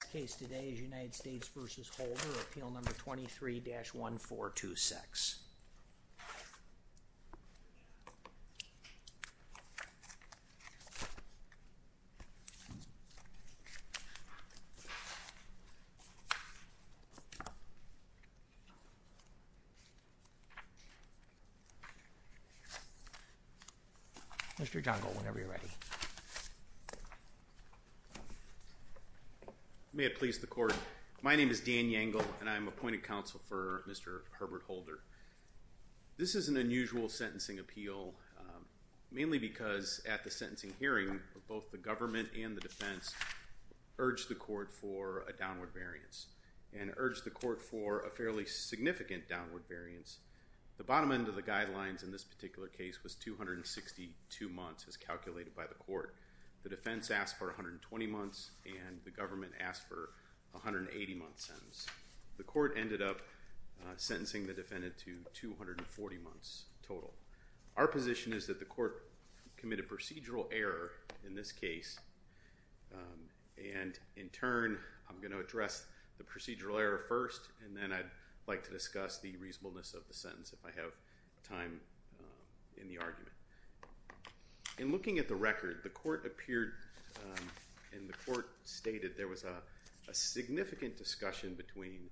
The case today is United States v. Holder, appeal number 23-1426. Mr. Johngold, whenever you're ready. May it please the court. My name is Dan Yangle, and I'm appointed counsel for Mr. Herbert Holder. This is an unusual sentencing appeal, mainly because at the sentencing hearing, both the government and the defense urged the court for a downward variance, and urged the court for a fairly significant downward variance. The bottom end of the guidelines in this particular case was 262 months, as calculated by the court. The defense asked for 120 months, and the government asked for a 180-month sentence. The court ended up sentencing the defendant to 240 months total. Our position is that the court committed procedural error in this case, and in turn, I'm going to address the procedural error first, and then I'd like to discuss the reasonableness of the sentence if I have time in the argument. In looking at the record, the court appeared and the court stated there was a significant discussion between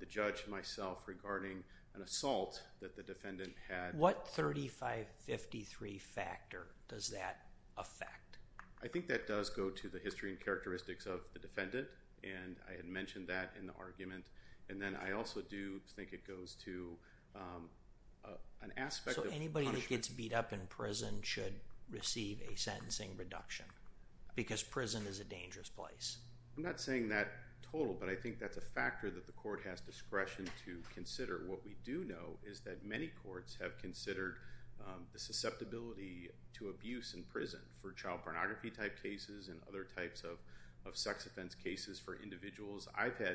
the judge and myself regarding an assault that the defendant had. What 3553 factor does that affect? I think that does go to the history and characteristics of the defendant, and I had mentioned that in the argument, and then I also do think it goes to an aspect of punishment. Who gets beat up in prison should receive a sentencing reduction, because prison is a dangerous place. I'm not saying that total, but I think that's a factor that the court has discretion to consider. What we do know is that many courts have considered the susceptibility to abuse in prison for child pornography type cases and other types of sex offense cases for individuals. I've had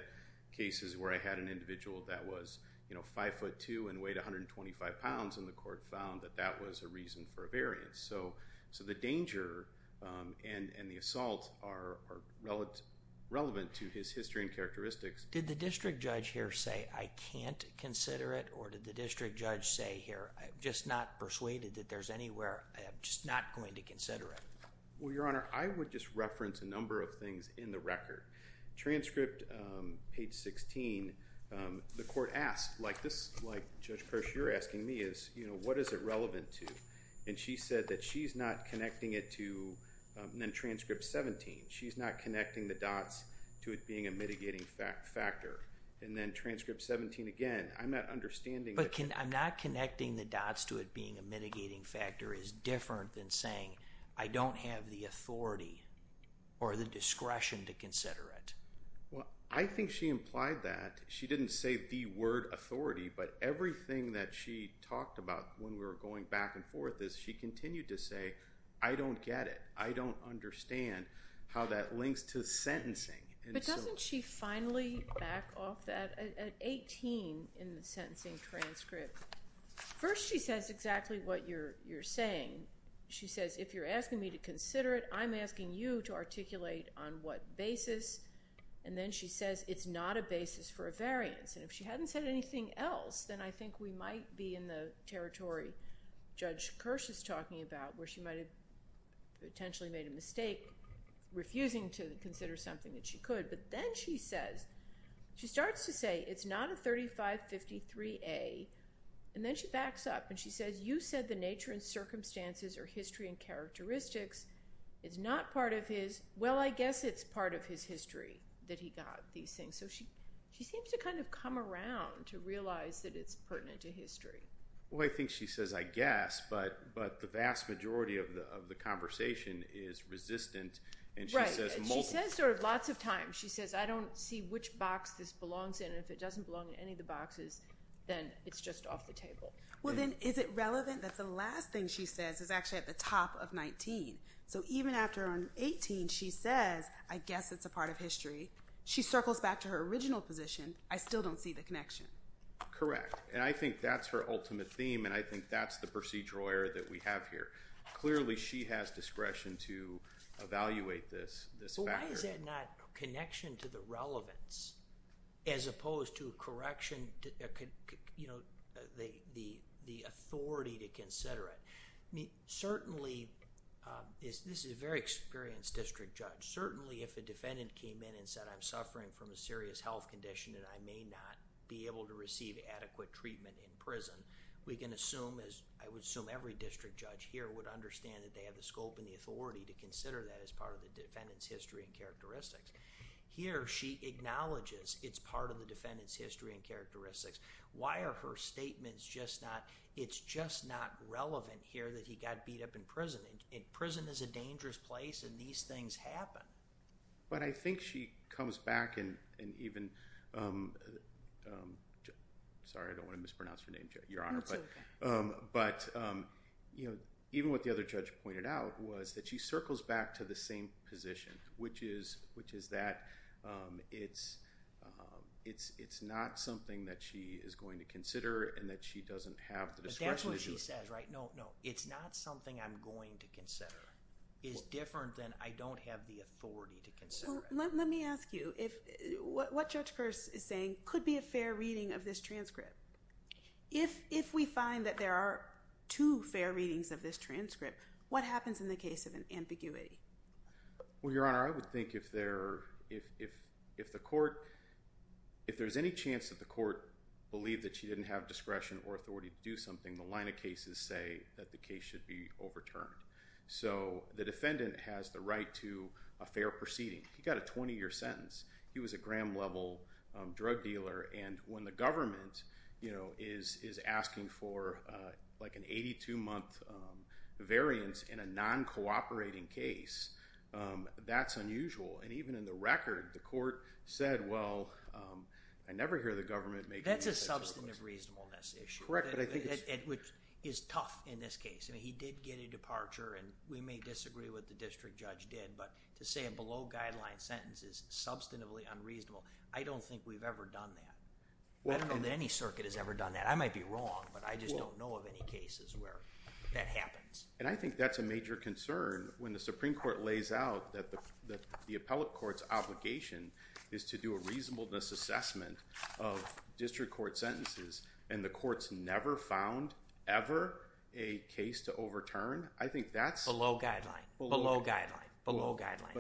cases where I had an individual that was 5'2 and weighed 125 pounds, and the court found that that was a reason for a variance. So the danger and the assault are relevant to his history and characteristics. Did the district judge here say, I can't consider it, or did the district judge say here, I'm just not persuaded that there's anywhere, I'm just not going to consider it? Well, Your Honor, I would just reference a number of things in the record. Transcript page 16, the court asked, like Judge Persh, you're asking me, what is it relevant to? And she said that she's not connecting it to, and then transcript 17, she's not connecting the dots to it being a mitigating factor. And then transcript 17 again, I'm not understanding. But I'm not connecting the dots to it being a mitigating factor is different than saying, I don't have the authority or the discretion to consider it. Well, I think she implied that. She didn't say the word authority, but everything that she talked about when we were going back and forth is she continued to say, I don't get it. I don't understand how that links to sentencing. But doesn't she finally back off that at 18 in the sentencing transcript? First she says exactly what you're saying. She says, if you're asking me to consider it, I'm asking you to articulate on what basis. And then she says, it's not a basis for a variance. And if she hadn't said anything else, then I think we might be in the territory Judge Persh is talking about, where she might have potentially made a mistake refusing to consider something that she could. But then she says, she starts to say, it's not a 3553A. And then she backs up and she says, you said the nature and circumstances or history and characteristics is not part of his. Well, I guess it's part of his history that he got these things. So she seems to kind of come around to realize that it's pertinent to history. Well, I think she says, I guess. But the vast majority of the conversation is resistant. And she says multiple times. She says lots of times. She says, I don't see which box this belongs in. And if it doesn't belong in any of the boxes, then it's just off the table. Well, then is it relevant that the last thing she says is actually at the top of 19? So even after on 18, she says, I guess it's a part of history. She circles back to her original position. I still don't see the connection. Correct. And I think that's her ultimate theme. And I think that's the procedural error that we have here. Clearly, she has discretion to evaluate this factor. Is that not a connection to the relevance as opposed to a correction, you know, the authority to consider it? Certainly, this is a very experienced district judge. Certainly, if a defendant came in and said, I'm suffering from a serious health condition and I may not be able to receive adequate treatment in prison, we can assume as I would assume every district judge here would understand that they have the scope and the authority to consider that as part of the defendant's history and characteristics. Here, she acknowledges it's part of the defendant's history and characteristics. Why are her statements just not – it's just not relevant here that he got beat up in prison? Prison is a dangerous place and these things happen. But I think she comes back and even – sorry, I don't want to mispronounce her name, Your Honor. That's okay. But, you know, even what the other judge pointed out was that she circles back to the same position, which is that it's not something that she is going to consider and that she doesn't have the discretion to do it. But that's what she says, right? No, no, it's not something I'm going to consider. It's different than I don't have the authority to consider it. Well, let me ask you, what Judge Peirce is saying could be a fair reading of this transcript. If we find that there are two fair readings of this transcript, what happens in the case of an ambiguity? Well, Your Honor, I would think if there's any chance that the court believed that she didn't have discretion or authority to do something, the line of cases say that the case should be overturned. So the defendant has the right to a fair proceeding. He got a 20-year sentence. He was a Graham-level drug dealer. And when the government, you know, is asking for, like, an 82-month variance in a non-cooperating case, that's unusual. And even in the record, the court said, well, I never hear the government make any such requests. That's a substantive reasonableness issue. Correct, but I think it's— Which is tough in this case. I mean, he did get a departure, and we may disagree with what the district judge did, but to say a below-guideline sentence is substantively unreasonable, I don't think we've ever done that. I don't know that any circuit has ever done that. I might be wrong, but I just don't know of any cases where that happens. And I think that's a major concern when the Supreme Court lays out that the appellate court's obligation is to do a reasonableness assessment of district court sentences, and the court's never found ever a case to overturn. I think that's— A below-guideline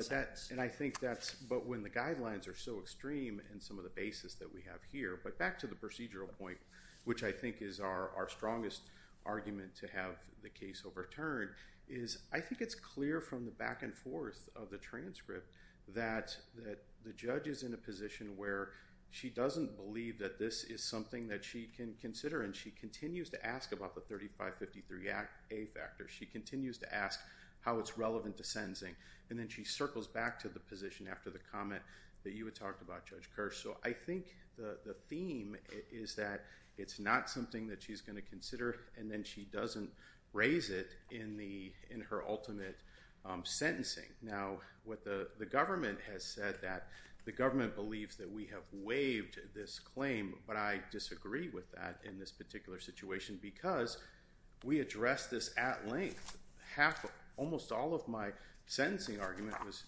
sentence. And I think that's—but when the guidelines are so extreme in some of the basis that we have here, but back to the procedural point, which I think is our strongest argument to have the case overturned, is I think it's clear from the back and forth of the transcript that the judge is in a position where she doesn't believe that this is something that she can consider, and she continues to ask about the 3553A factor. She continues to ask how it's relevant to sentencing, and then she circles back to the position after the comment that you had talked about, Judge Kirsch. So I think the theme is that it's not something that she's going to consider, and then she doesn't raise it in her ultimate sentencing. Now, what the government has said, that the government believes that we have waived this claim, but I disagree with that in this particular situation because we addressed this at length. Almost all of my sentencing argument was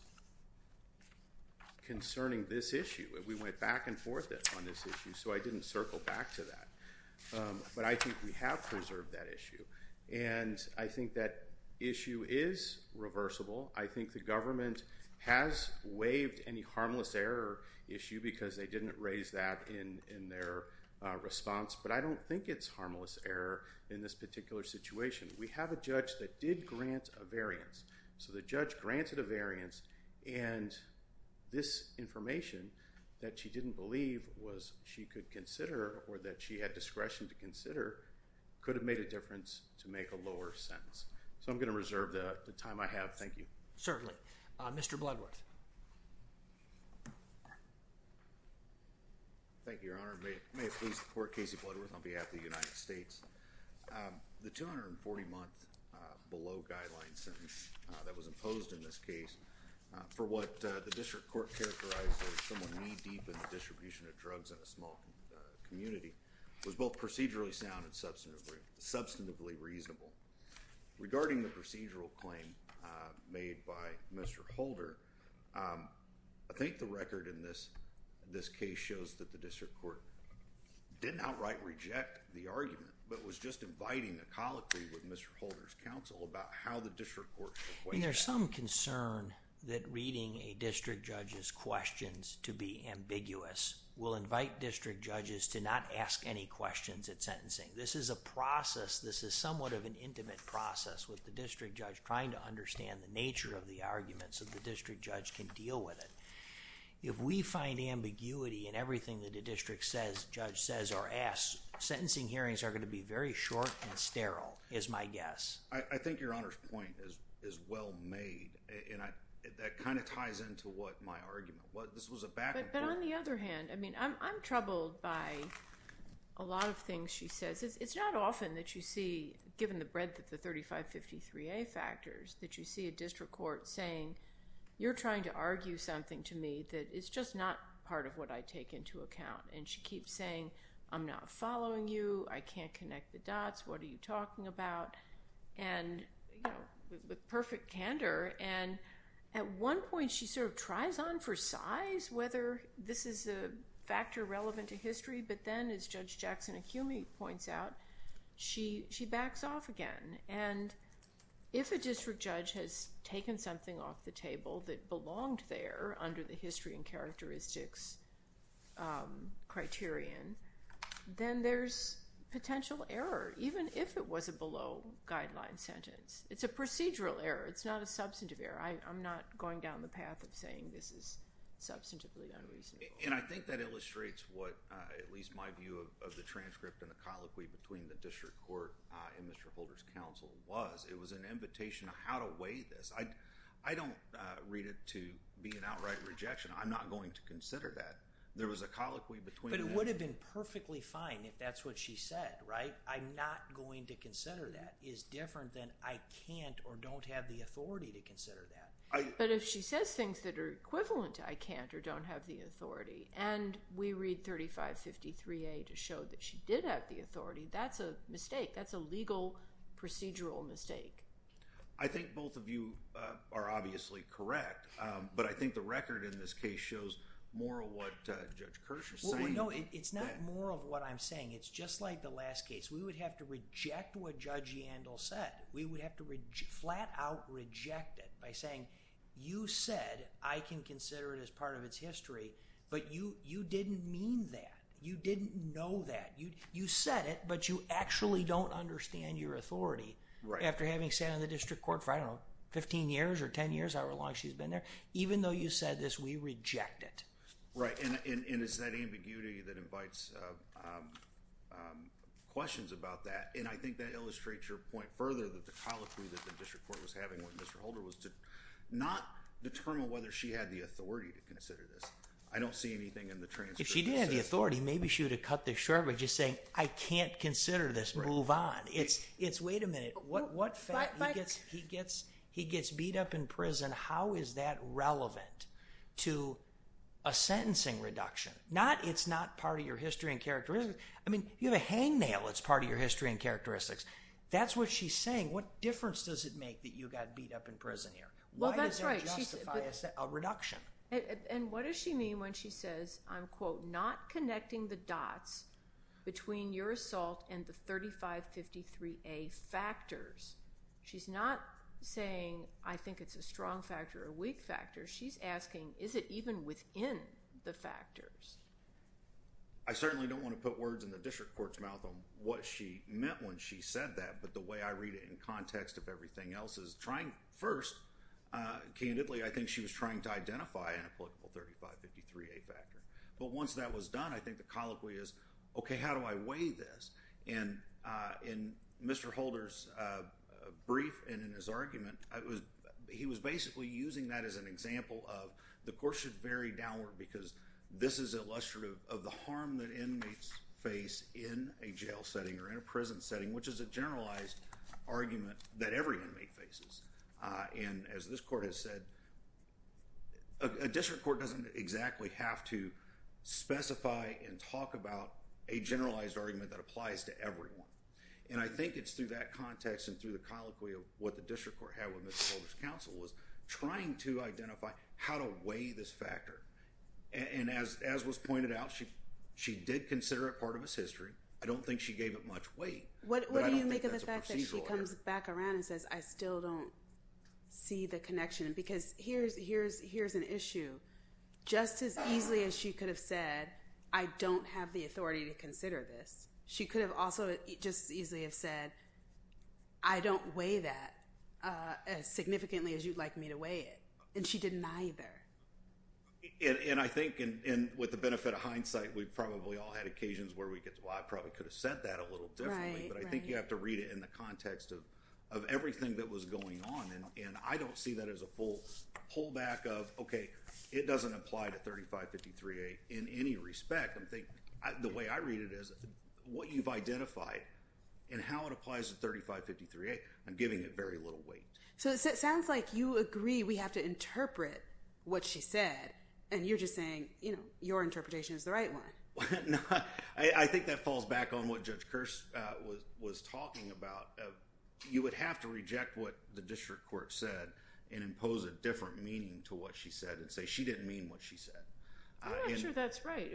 concerning this issue. We went back and forth on this issue, so I didn't circle back to that. But I think we have preserved that issue, and I think that issue is reversible. I think the government has waived any harmless error issue because they didn't raise that in their response, but I don't think it's harmless error in this particular situation. We have a judge that did grant a variance, so the judge granted a variance, and this information that she didn't believe was she could consider or that she had discretion to consider could have made a difference to make a lower sentence. So I'm going to reserve the time I have. Thank you. Certainly. Mr. Bloodworth. Thank you, Your Honor. May it please the Court, Casey Bloodworth on behalf of the United States. The 240-month below-guideline sentence that was imposed in this case, for what the district court characterized as someone knee-deep in the distribution of drugs in a small community, was both procedurally sound and substantively reasonable. Regarding the procedural claim made by Mr. Holder, I think the record in this case shows that the district court didn't outright reject the argument but was just inviting a colloquy with Mr. Holder's counsel about how the district court should weigh that. There's some concern that reading a district judge's questions to be ambiguous will invite district judges to not ask any questions at sentencing. This is a process. This is somewhat of an intimate process with the district judge trying to understand the nature of the argument so the district judge can deal with it. If we find ambiguity in everything that a district judge says or asks, sentencing hearings are going to be very short and sterile is my guess. I think Your Honor's point is well made, and that kind of ties into what my argument was. This was a back and forth. But on the other hand, I'm troubled by a lot of things she says. It's not often that you see, given the breadth of the 3553A factors, that you see a district court saying, you're trying to argue something to me that is just not part of what I take into account. And she keeps saying, I'm not following you. I can't connect the dots. What are you talking about? And with perfect candor. At one point she sort of tries on for size whether this is a factor relevant to history, but then as Judge Jackson-Akumi points out, she backs off again. And if a district judge has taken something off the table that belonged there under the history and characteristics criterion, then there's potential error, even if it was a below-guideline sentence. It's a procedural error. It's not a substantive error. I'm not going down the path of saying this is substantively unreasonable. And I think that illustrates what at least my view of the transcript and the colloquy between the district court and Mr. Holder's counsel was. It was an invitation of how to weigh this. I don't read it to be an outright rejection. I'm not going to consider that. There was a colloquy between the two. But it would have been perfectly fine if that's what she said, right? I'm not going to consider that. That is different than I can't or don't have the authority to consider that. But if she says things that are equivalent to I can't or don't have the authority and we read 3553A to show that she did have the authority, that's a mistake. That's a legal procedural mistake. I think both of you are obviously correct, but I think the record in this case shows more of what Judge Kirsch is saying. Well, no, it's not more of what I'm saying. It's just like the last case. We would have to reject what Judge Yandel said. We would have to flat out reject it by saying, you said I can consider it as part of its history, but you didn't mean that. You didn't know that. You said it, but you actually don't understand your authority. After having sat on the district court for, I don't know, 15 years or 10 years, however long she's been there, even though you said this, we reject it. Right, and it's that ambiguity that invites questions about that, and I think that illustrates your point further, that the colloquy that the district court was having with Mr. Holder was to not determine whether she had the authority to consider this. I don't see anything in the transcript. If she did have the authority, maybe she would have cut this short by just saying I can't consider this, move on. It's wait a minute, he gets beat up in prison. How is that relevant to a sentencing reduction? It's not part of your history and characteristics. I mean, you have a hangnail that's part of your history and characteristics. That's what she's saying. What difference does it make that you got beat up in prison here? Why does that justify a reduction? And what does she mean when she says, I'm, quote, not connecting the dots between your assault and the 3553A factors? She's not saying I think it's a strong factor or a weak factor. She's asking is it even within the factors? I certainly don't want to put words in the district court's mouth on what she meant when she said that, but the way I read it in context of everything else is trying first, candidly, I think she was trying to identify an applicable 3553A factor. But once that was done, I think the colloquy is, okay, how do I weigh this? And in Mr. Holder's brief and in his argument, he was basically using that as an example of the court should vary downward because this is illustrative of the harm that inmates face in a jail setting or in a prison setting, which is a generalized argument that every inmate faces. And as this court has said, a district court doesn't exactly have to specify and talk about a generalized argument that applies to everyone. And I think it's through that context and through the colloquy of what the district court had with Mr. Holder's counsel was trying to identify how to weigh this factor. And as was pointed out, she did consider it part of his history. I don't think she gave it much weight, but I don't think that's a procedural error. What do you make of the fact that she comes back around and says, I still don't see the connection because here's an issue. Just as easily as she could have said, I don't have the authority to consider this. She could have also just as easily have said, I don't weigh that as significantly as you'd like me to weigh it. And she didn't either. And I think with the benefit of hindsight, we probably all had occasions where I probably could have said that a little differently. But I think you have to read it in the context of everything that was going on. And I don't see that as a full pullback of, okay, it doesn't apply to 3553A in any respect. The way I read it is what you've identified and how it applies to 3553A. I'm giving it very little weight. So it sounds like you agree we have to interpret what she said, and you're just saying your interpretation is the right one. I think that falls back on what Judge Kirsch was talking about. You would have to reject what the district court said and impose a different meaning to what she said and say she didn't mean what she said. I'm not sure that's right.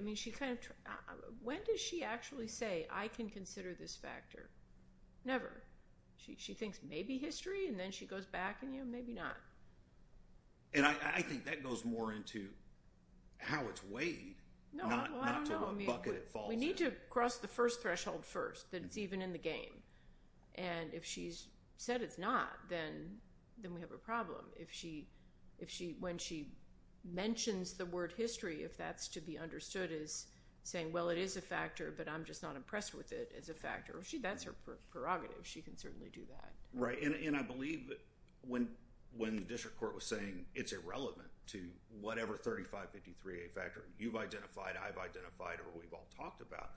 When does she actually say, I can consider this factor? Never. She thinks maybe history, and then she goes back and, you know, maybe not. And I think that goes more into how it's weighed. No, I don't know. We need to cross the first threshold first, that it's even in the game. And if she's said it's not, then we have a problem. When she mentions the word history, if that's to be understood as saying, well, it is a factor, but I'm just not impressed with it as a factor, that's her prerogative. She can certainly do that. Right, and I believe when the district court was saying it's irrelevant to whatever 3553A factor you've identified, I've identified, or we've all talked about,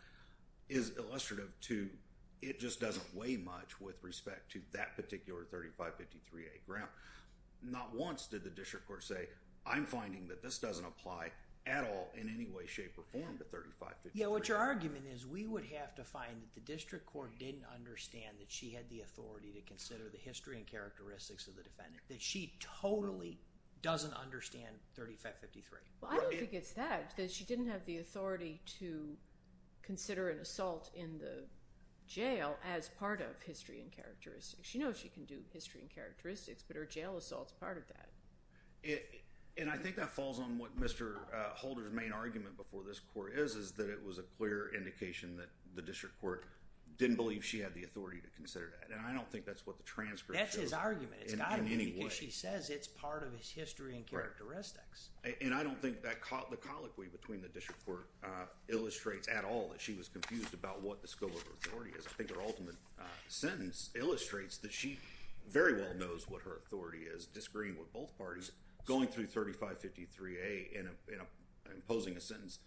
is illustrative to, it just doesn't weigh much with respect to that particular 3553A ground. Not once did the district court say, I'm finding that this doesn't apply at all in any way, shape, or form to 3553A. Yeah, what your argument is, we would have to find that the district court didn't understand that she had the authority to consider the history and characteristics of the defendant, that she totally doesn't understand 3553. Well, I don't think it's that, that she didn't have the authority to consider an assault in the jail as part of history and characteristics. She knows she can do history and characteristics, but her jail assault's part of that. And I think that falls on what Mr. Holder's main argument before this court is, is that it was a clear indication that the district court didn't believe she had the authority to consider that. And I don't think that's what the transcript shows. It's not his argument. It's got to be because she says it's part of his history and characteristics. And I don't think the colloquy between the district court illustrates at all that she was confused about what the scope of authority is. I think her ultimate sentence illustrates that she very well knows what her authority is, disagreeing with both parties, going through 3553A and imposing a sentence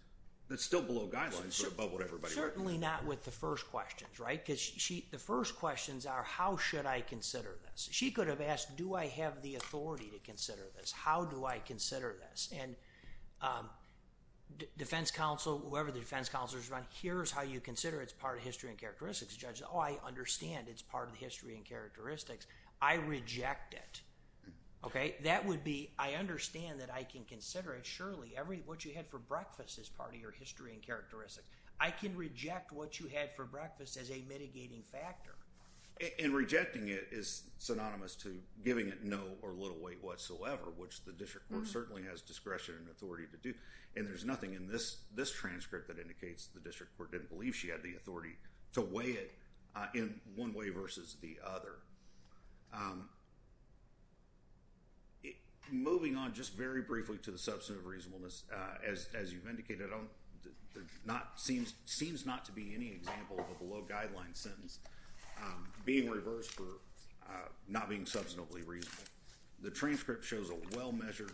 that's still below guidelines but above what everybody recognizes. Certainly not with the first questions, right? Because the first questions are, how should I consider this? She could have asked, do I have the authority to consider this? How do I consider this? And defense counsel, whoever the defense counsel is around, here's how you consider it's part of history and characteristics. The judge says, oh, I understand it's part of the history and characteristics. I reject it. Okay? That would be, I understand that I can consider it. Surely, what you had for breakfast is part of your history and characteristics. I can reject what you had for breakfast as a mitigating factor. And rejecting it is synonymous to giving it no or little weight whatsoever, which the district court certainly has discretion and authority to do. And there's nothing in this transcript that indicates the district court didn't believe she had the authority to weigh it in one way versus the other. Moving on just very briefly to the substantive reasonableness, as you've indicated, it seems not to be any example of a below-guideline sentence being reversed for not being substantively reasonable. The transcript shows a well-measured,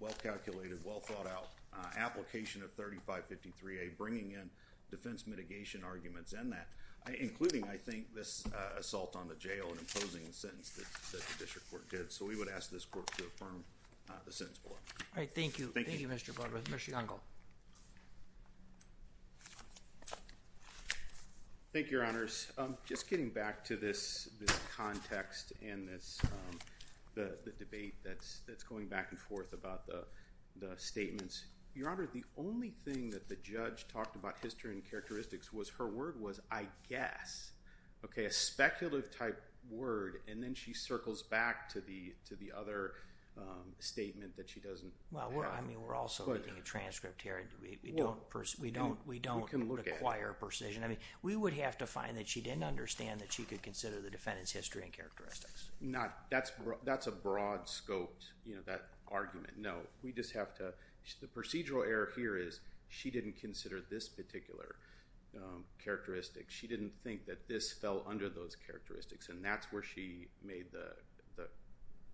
well-calculated, well-thought-out application of 3553A, bringing in defense mitigation arguments in that, including, I think, this assault on the jail and imposing the sentence that the district court did. So we would ask this court to affirm the sentence below. All right, thank you. Thank you, Mr. Barber. Mr. Youngall. Thank you, Your Honors. Just getting back to this context and the debate that's going back and forth about the statements, Your Honor, the only thing that the judge talked about history and characteristics was her word was, I guess, okay, a speculative-type word. And then she circles back to the other statement that she doesn't have. Well, I mean, we're also reading a transcript here. We don't require precision. We would have to find that she didn't understand that she could consider the defendant's history and characteristics. That's a broad-scoped argument. No, we just have to – the procedural error here is she didn't consider this particular characteristic. She didn't think that this fell under those characteristics, and that's where she made the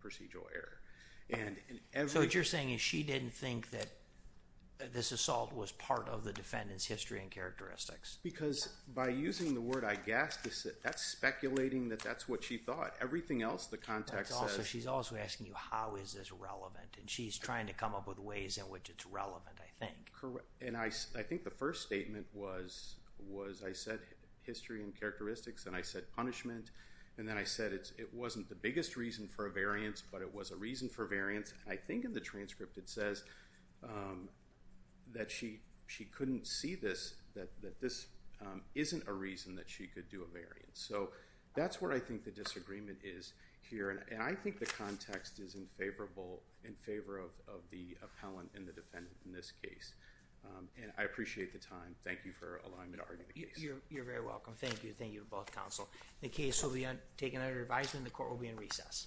procedural error. So what you're saying is she didn't think that this assault was part of the defendant's history and characteristics. Because by using the word, I guess, that's speculating that that's what she thought. Everything else, the context says – She's also asking you how is this relevant, and she's trying to come up with ways in which it's relevant, I think. And I think the first statement was I said history and characteristics, and I said punishment, and then I said it wasn't the biggest reason for a variance, but it was a reason for a variance. And I think in the transcript it says that she couldn't see this, that this isn't a reason that she could do a variance. So that's where I think the disagreement is here, and I think the context is in favor of the appellant and the defendant in this case. And I appreciate the time. Thank you for allowing me to argue the case. You're very welcome. Thank you. Thank you to both counsel. The case will be taken under advisement, and the court will be in recess.